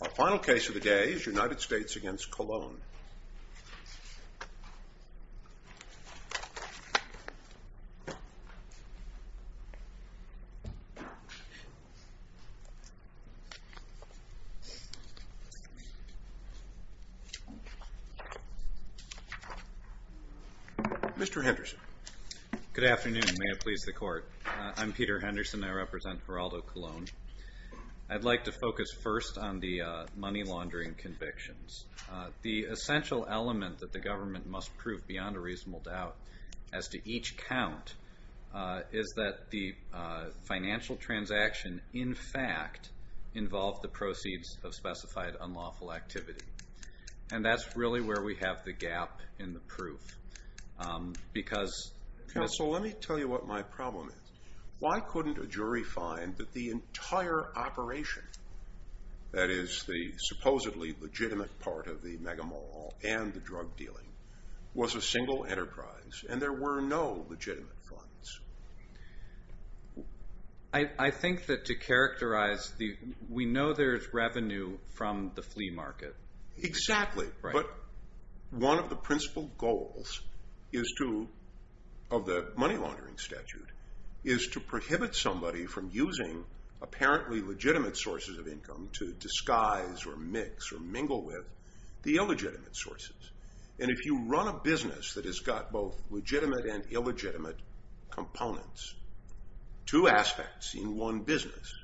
Our final case of the day is United States v. Colon Mr. Henderson Good afternoon, may it please the court I'm Peter Henderson, I represent Geraldo Colon I'd like to focus first on the money laundering convictions The essential element that the government must prove beyond a reasonable doubt As to each count Is that the financial transaction in fact Involved the proceeds of specified unlawful activity And that's really where we have the gap in the proof Because Counsel, let me tell you what my problem is Why couldn't a jury find that the entire operation That is the supposedly legitimate part of the mega mall And the drug dealing Was a single enterprise and there were no legitimate funds I think that to characterize the We know there's revenue from the flea market Exactly, but One of the principal goals Is to Of the money laundering statute Is to prohibit somebody from using Apparently legitimate sources of income to disguise Or mix or mingle with The illegitimate sources And if you run a business that has got both Legitimate and illegitimate Components Two aspects in one business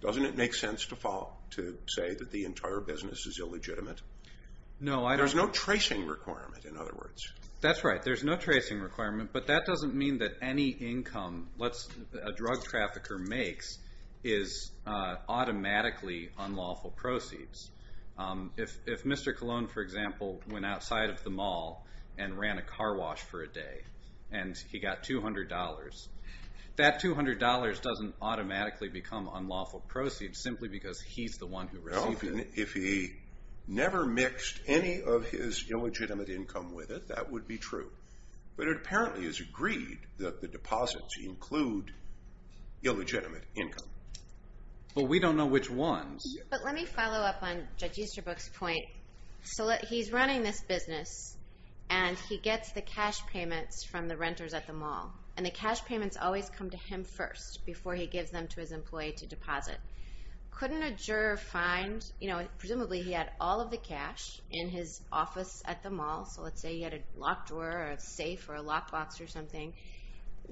Doesn't it make sense to fall To say that the entire business is illegitimate No, I don't There's no tracing requirement in other words That's right, there's no tracing requirement But that doesn't mean that any income A drug trafficker makes Is automatically unlawful proceeds If Mr. Colon for example Went outside of the mall And ran a car wash for a day And he got $200 That $200 doesn't automatically become unlawful proceeds Simply because he's the one who received it If he never mixed any of his Illegitimate income with it That would be true But it apparently is agreed That the deposits include Illegitimate income But we don't know which ones But let me follow up on Judge Easterbrook's point So he's running this business And he gets the cash payments From the renters at the mall And the cash payments always come to him first Before he gives them to his employee to deposit Presumably he had all of the cash In his office at the mall So let's say he had a locked door Or a safe or a lockbox or something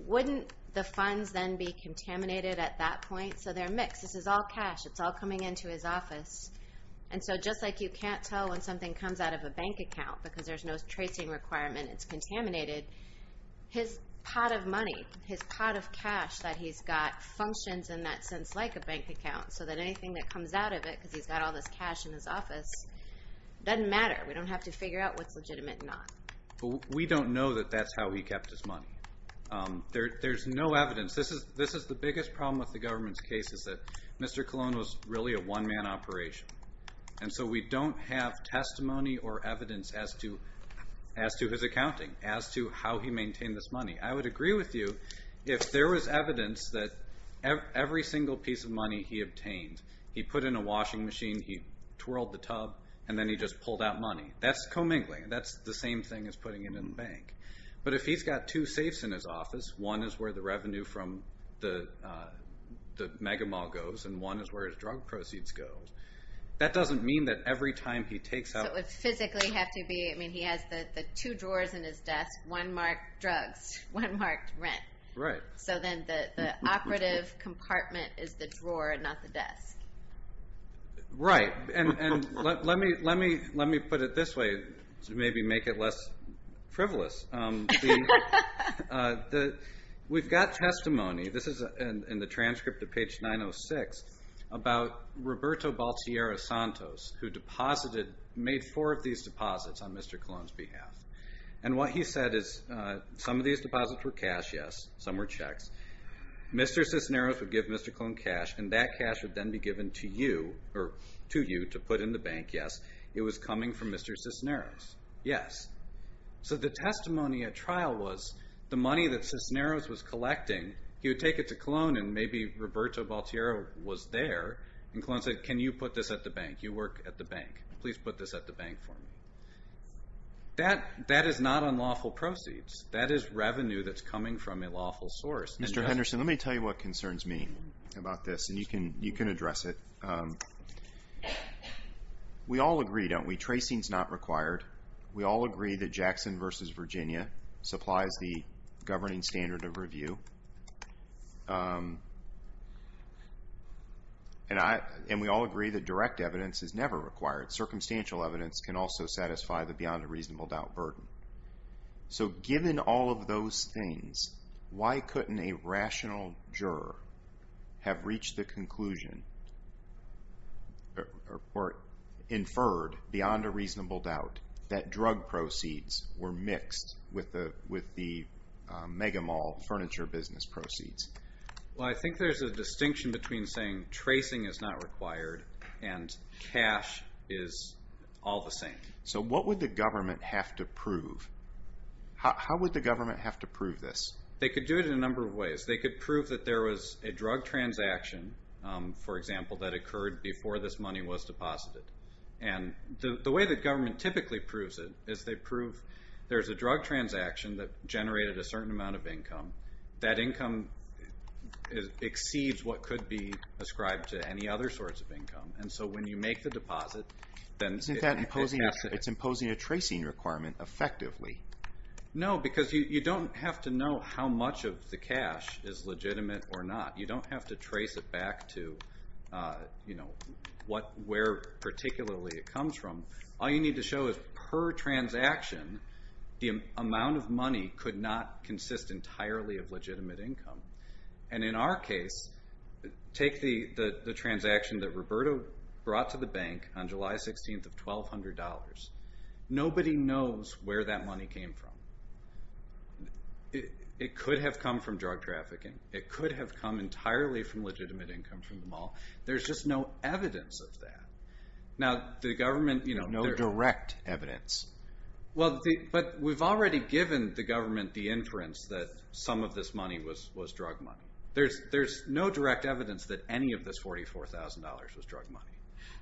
Wouldn't the funds then be contaminated at that point? So they're mixed, this is all cash It's all coming into his office And so just like you can't tell When something comes out of a bank account Because there's no tracing requirement It's contaminated His pot of money His pot of cash that he's got Functions in that sense like a bank account So that anything that comes out of it Because he's got all this cash in his office Doesn't matter We don't have to figure out what's legitimate and not We don't know that that's how he kept his money There's no evidence This is the biggest problem with the government's case Is that Mr. Colon was really a one-man operation And so we don't have testimony or evidence As to his accounting As to how he maintained this money I would agree with you If there was evidence that Every single piece of money he obtained He put in a washing machine He twirled the tub And then he just pulled out money That's commingling That's the same thing as putting it in a bank But if he's got two safes in his office One is where the revenue from the Mega Mall goes And one is where his drug proceeds go That doesn't mean that every time he takes out So it would physically have to be He has the two drawers in his desk One marked drugs One marked rent Right So then the operative compartment Is the drawer and not the desk Right And let me put it this way To maybe make it less frivolous We've got testimony This is in the transcript of page 906 About Roberto Baltierra Santos Who deposited Made four of these deposits On Mr. Colon's behalf And what he said is Some of these deposits were cash, yes Some were checks Mr. Cisneros would give Mr. Colon cash And that cash would then be given to you Or to you to put in the bank, yes It was coming from Mr. Cisneros Yes So the testimony at trial was The money that Cisneros was collecting He would take it to Colon And maybe Roberto Baltierra was there And Colon said Can you put this at the bank You work at the bank Please put this at the bank for me That is not unlawful proceeds That is revenue that's coming from a lawful source Mr. Henderson, let me tell you what concerns me About this And you can address it We all agree, don't we Tracing is not required We all agree that Jackson v. Virginia Supplies the governing standard of review And we all agree that direct evidence Is never required Circumstantial evidence can also satisfy The beyond a reasonable doubt burden So given all of those things Why couldn't a rational juror Have reached the conclusion Or inferred beyond a reasonable doubt That drug proceeds were mixed With the Megamall furniture business proceeds Well I think there's a distinction between Saying tracing is not required And cash is all the same So what would the government have to prove How would the government have to prove this They could do it in a number of ways They could prove that there was a drug transaction For example that occurred Before this money was deposited And the way the government typically proves it Is they prove there's a drug transaction That generated a certain amount of income That income exceeds what could be Ascribed to any other sorts of income And so when you make the deposit It's imposing a tracing requirement effectively No because you don't have to know How much of the cash is legitimate or not You don't have to trace it back to Where particularly it comes from All you need to show is per transaction The amount of money could not consist And in our case Take the transaction that Roberto Brought to the bank on July 16th Of $1,200 Nobody knows where that money came from It could have come from drug trafficking It could have come entirely from Legitimate income from the mall There's just no evidence of that Now the government No direct evidence But we've already given the government The inference that some of this money Was drug money There's no direct evidence that any of this $44,000 was drug money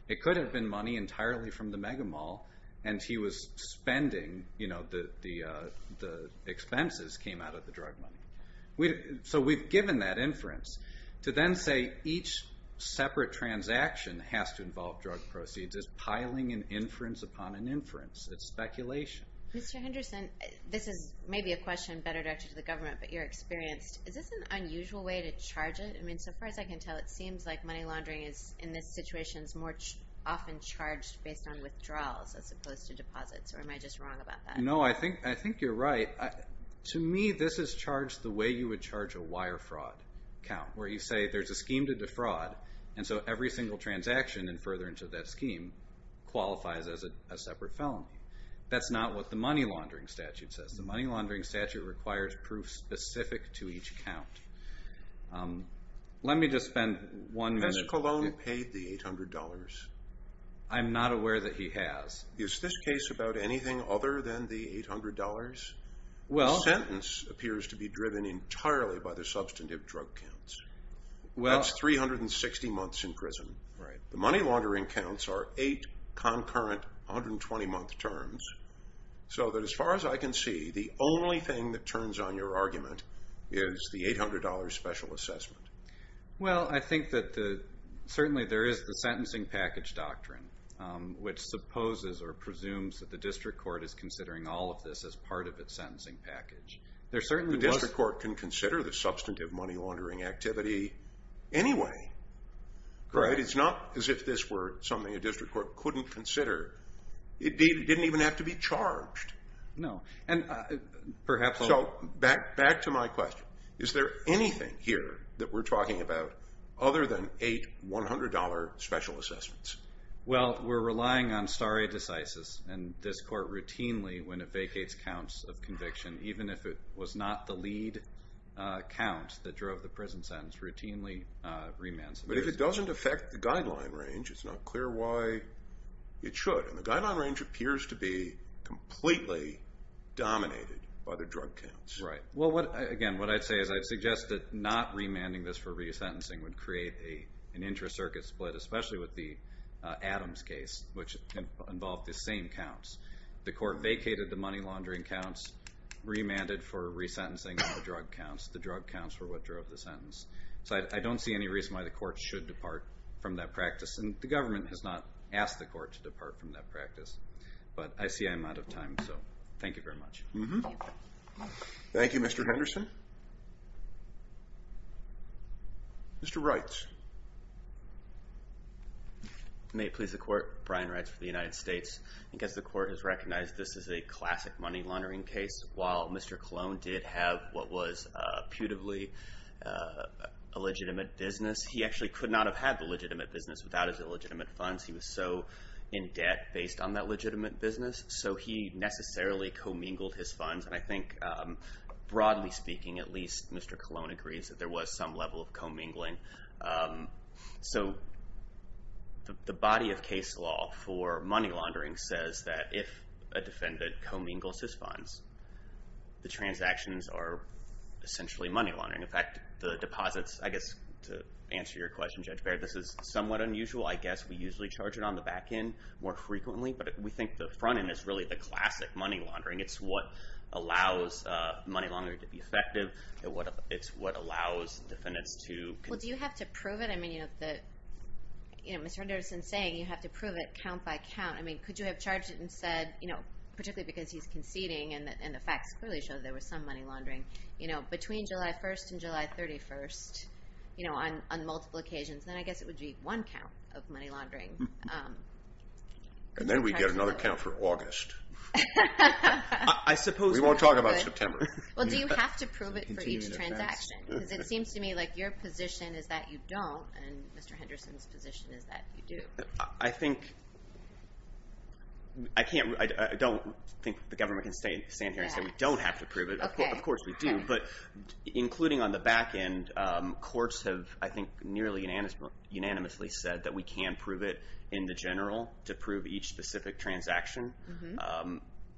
It could have been money entirely from the mega mall And he was spending The expenses came out of the drug money So we've given that inference To then say each separate transaction Has to involve drug proceeds Is piling an inference upon an inference It's speculation Mr. Henderson This is maybe a question better directed to the government But you're experienced Is this an unusual way to charge it? So far as I can tell It seems like money laundering In this situation is more often charged Based on withdrawals As opposed to deposits Or am I just wrong about that? No I think you're right To me this is charged The way you would charge a wire fraud Count where you say There's a scheme to defraud And so every single transaction And further into that scheme Qualifies as a separate felony That's not what the money laundering statute says The money laundering statute requires Proof specific to each count Let me just spend one minute Has Cologne paid the $800? I'm not aware that he has Is this case about anything other than the $800? The sentence appears to be driven entirely By the substantive drug counts That's 360 months in prison The money laundering counts are 8 concurrent 120 month terms So that as far as I can see The only thing that turns on your argument Is the $800 special assessment Well I think that Certainly there is the sentencing package doctrine Which supposes or presumes That the district court is considering all of this As part of its sentencing package The district court can consider The substantive money laundering activity Anyway It's not as if this were Something a district court couldn't consider It didn't even have to be charged No and perhaps So back to my question Is there anything here that we're talking about Other than 8 $100 special assessments? Well we're relying on stare decisis And this court routinely When it vacates counts of conviction Even if it was not the lead count That drove the prison sentence Routinely remands But if it doesn't affect the guideline range It's not clear why it should And the guideline range appears to be Completely dominated by the drug counts Right well again what I'd say is I'd suggest that not remanding this for resentencing Would create an intra-circuit split Especially with the Adams case Which involved the same counts The court vacated the money laundering counts Remanded for resentencing the drug counts The drug counts were what drove the sentence So I don't see any reason why the court should depart From that practice And the government has not asked the court To depart from that practice But I see I'm out of time so Thank you very much Thank you Mr. Henderson Mr. Reitz May it please the court Brian Reitz for the United States I guess the court has recognized This is a classic money laundering case While Mr. Colon did have What was putatively A legitimate business He actually could not have had the legitimate business Without his illegitimate funds He was so in debt Based on that legitimate business So he necessarily commingled his funds And I think broadly speaking At least Mr. Colon agrees That there was some level of commingling So The body of case law For money laundering says that If a defendant commingles his funds The transactions are Essentially money laundering In fact the deposits I guess to answer your question Judge Baird This is somewhat unusual I guess we usually charge it on the back end More frequently but we think the front end Is really the classic money laundering It's what allows money laundering to be effective It's what allows Defendants to Well do you have to prove it Mr. Henderson is saying You have to prove it count by count Could you have charged it and said Particularly because he's conceding And the facts clearly show there was some money laundering Between July 1st and July 31st You know on multiple occasions Then I guess it would be one count of money laundering And then we get Another count for August I suppose We won't talk about September Well do you have to prove it for each transaction Because it seems to me like your position is that you don't And Mr. Henderson's position is that You do I think I don't think the government can Stand here and say we don't have to prove it Of course we do but Including on the back end Courts have I think nearly Unanimously said that we can prove it In the general to prove each Specific transaction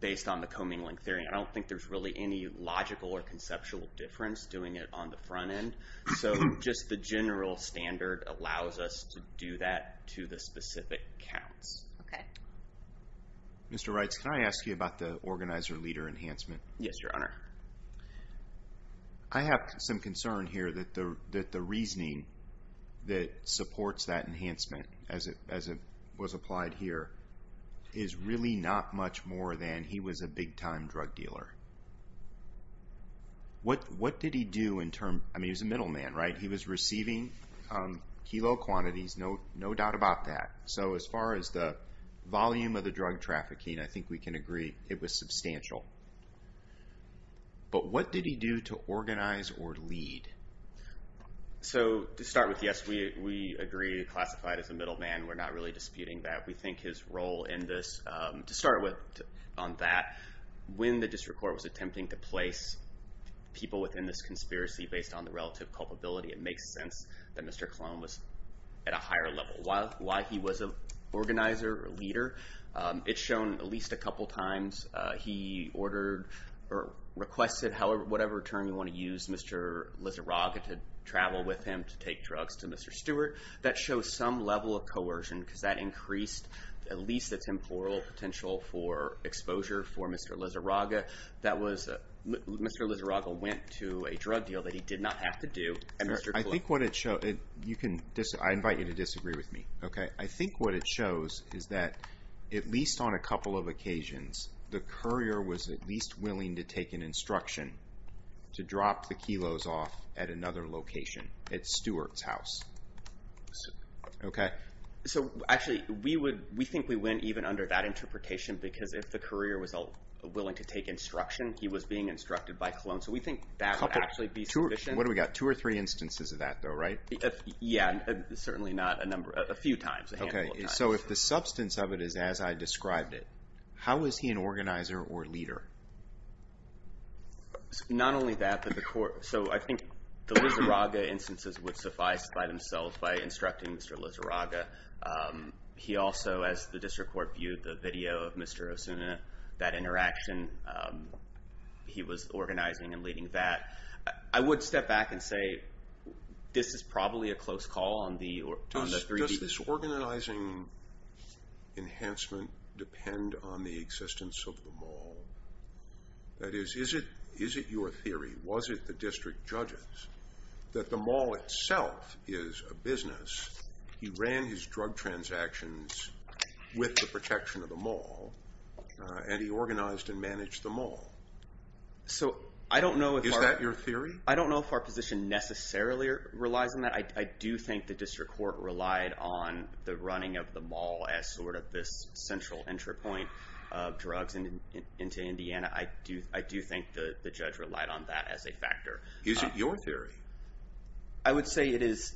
Based on the commingling theory I don't think there's really any logical or conceptual Difference doing it on the front end So just the general Standard allows us to do That to the specific counts Okay Mr. Reitz can I ask you about the Organizer leader enhancement Yes your honor I have some concern here That the reasoning That supports that enhancement As it was applied here Is really not Much more than he was a big time Drug dealer What did he do In terms, I mean he was a middle man right He was receiving Kilo quantities no doubt about that So as far as the volume Of the drug trafficking I think we can agree It was substantial But what did he do To organize or lead So to start with Yes we agree classified as a Middle man we're not really disputing that We think his role in this To start with on that When the district court was attempting to place People within this conspiracy Based on the relative culpability It makes sense that Mr. Colon was At a higher level while he was An organizer or leader It's shown at least a couple Times he ordered Or requested Whatever term you want to use Mr. Lizarraga To travel with him to take drugs To Mr. Stewart that shows some Level of coercion because that increased At least a temporal potential For exposure for Mr. Lizarraga that was Mr. Lizarraga went to a drug Deal that he did not have to do I think what it shows I invite you to disagree with me I think what it shows is that At least on a couple of occasions The courier was at least Willing to take an instruction To drop the kilos off At another location At Stewart's house So actually We think we win even under that Interpretation because if the courier was Willing to take instruction he was Being instructed by Colon so we think that Would actually be sufficient Two or three instances of that though right Yeah certainly not A few times So if the substance of it is as I described it How is he an organizer Or leader Not only that but the court So I think the Lizarraga Instances would suffice by themselves By instructing Mr. Lizarraga He also as the district Court viewed the video of Mr. Osuna That interaction He was organizing and Leading that I would step back And say this is probably A close call on the Does this organizing Enhancement depend On the existence of the mall That is Is it your theory was it the district Judges that the mall Itself is a business He ran his drug transactions With the protection Of the mall And he organized and managed the mall So I don't know Is that your theory I don't know if our position necessarily relies on that I do think the district court relied On the running of the mall As sort of this central entry point Of drugs into Indiana I do think The judge relied on that as a factor Is it your theory I would say it is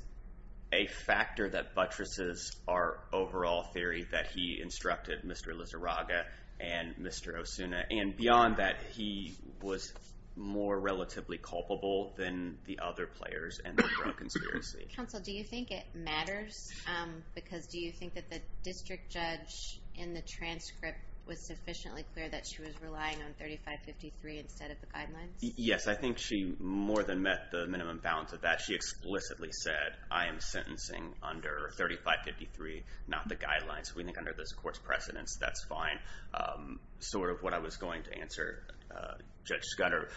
A factor that buttresses Our overall theory that he Instructed Mr. Lizarraga And Mr. Osuna and beyond that He was more Relatively culpable than the other Players and the drug conspiracy Counsel do you think it matters Because do you think that the district Judge in the transcript Was sufficiently clear that she was relying On 3553 instead of the guidelines Yes I think she more than Met the minimum balance of that she Explicitly said I am sentencing Under 3553 Not the guidelines we think under this court's Precedence that's fine Sort of what I was going To answer Judge Scudder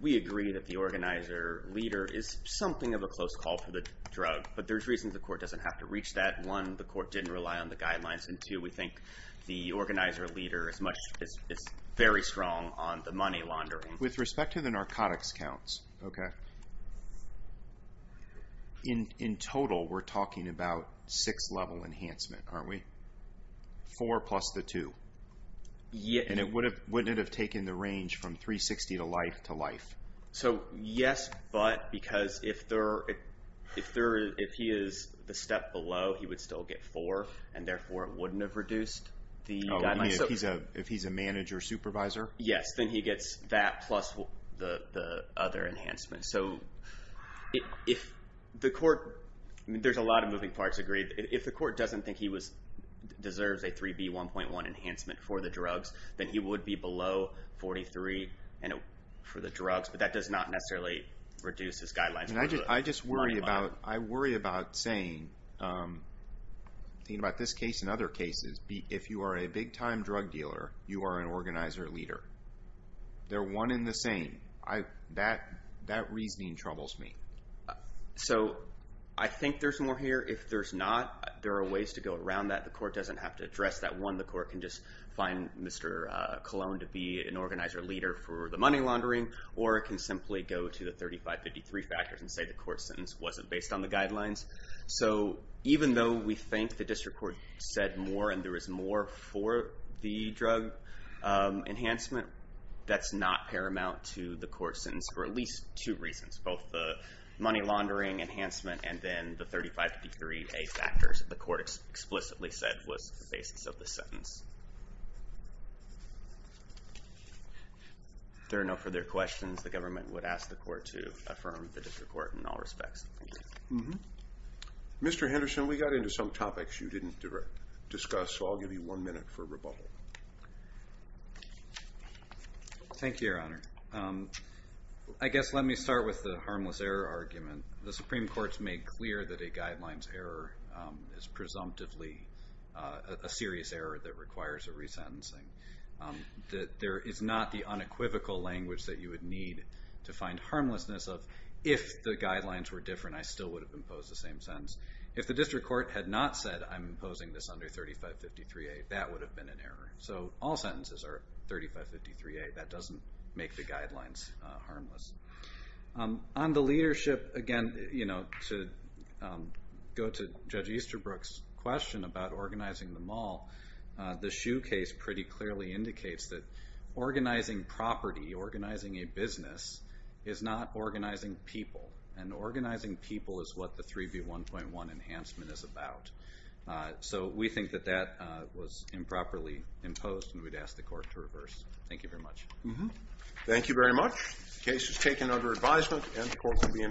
We agree that The organizer leader is Something of a close call for the drug But there's reasons the court doesn't have to reach that One the court didn't rely on the guidelines And two we think the organizer leader Is very strong On the money laundering With respect to the narcotics counts In total we're talking About six level enhancement Aren't we Four plus the two And wouldn't it have taken the range From 360 to life to life So yes but because If there If he is the step below He would still get four and therefore It wouldn't have reduced the guidelines If he's a manager supervisor Yes then he gets that plus The other enhancement So if The court There's a lot of moving parts If the court doesn't think he Deserves a 3B1.1 enhancement For the drugs then he would be below 43 For the drugs but that does not necessarily Reduce his guidelines I worry about saying About this case and other cases If you are a big time drug dealer You are an organizer leader They're one in the same That reasoning troubles me So I think There's more here if there's not There are ways to go around that the court doesn't have to Address that one the court can just find Mr. Colon to be an organizer Leader for the money laundering Or it can simply go to the 3553 Factors and say the court sentence wasn't based On the guidelines so Even though we think the district court Said more and there is more for The drug Enhancement that's not Paramount to the court sentence for at least Two reasons both the money laundering Enhancement and then the 3553A factors the court Explicitly said was the basis Of the sentence If there are no further questions The government would ask the court to Affirm the district court in all respects Mr. Henderson We got into some topics you didn't Discuss so I'll give you one minute for Rebuttal Thank you your honor I guess Let me start with the harmless error argument The supreme court's made clear that a Guidelines error is Presumptively a serious Error that requires a resentencing That there is not The unequivocal language that you would need To find harmlessness of If the guidelines were different I still Would have imposed the same sentence if the District court had not said I'm imposing This under 3553A that would have Been an error so all sentences are 3553A that doesn't make the Guidelines harmless On the leadership again You know to Go to Judge Easterbrook's Question about organizing the mall The shoe case pretty clearly Indicates that organizing Property organizing a business Is not organizing people And organizing people is what The 3B1.1 enhancement is About so we think That that was improperly Reversed thank you very much Thank you very much the case is taken Under advisement and the court will be in recess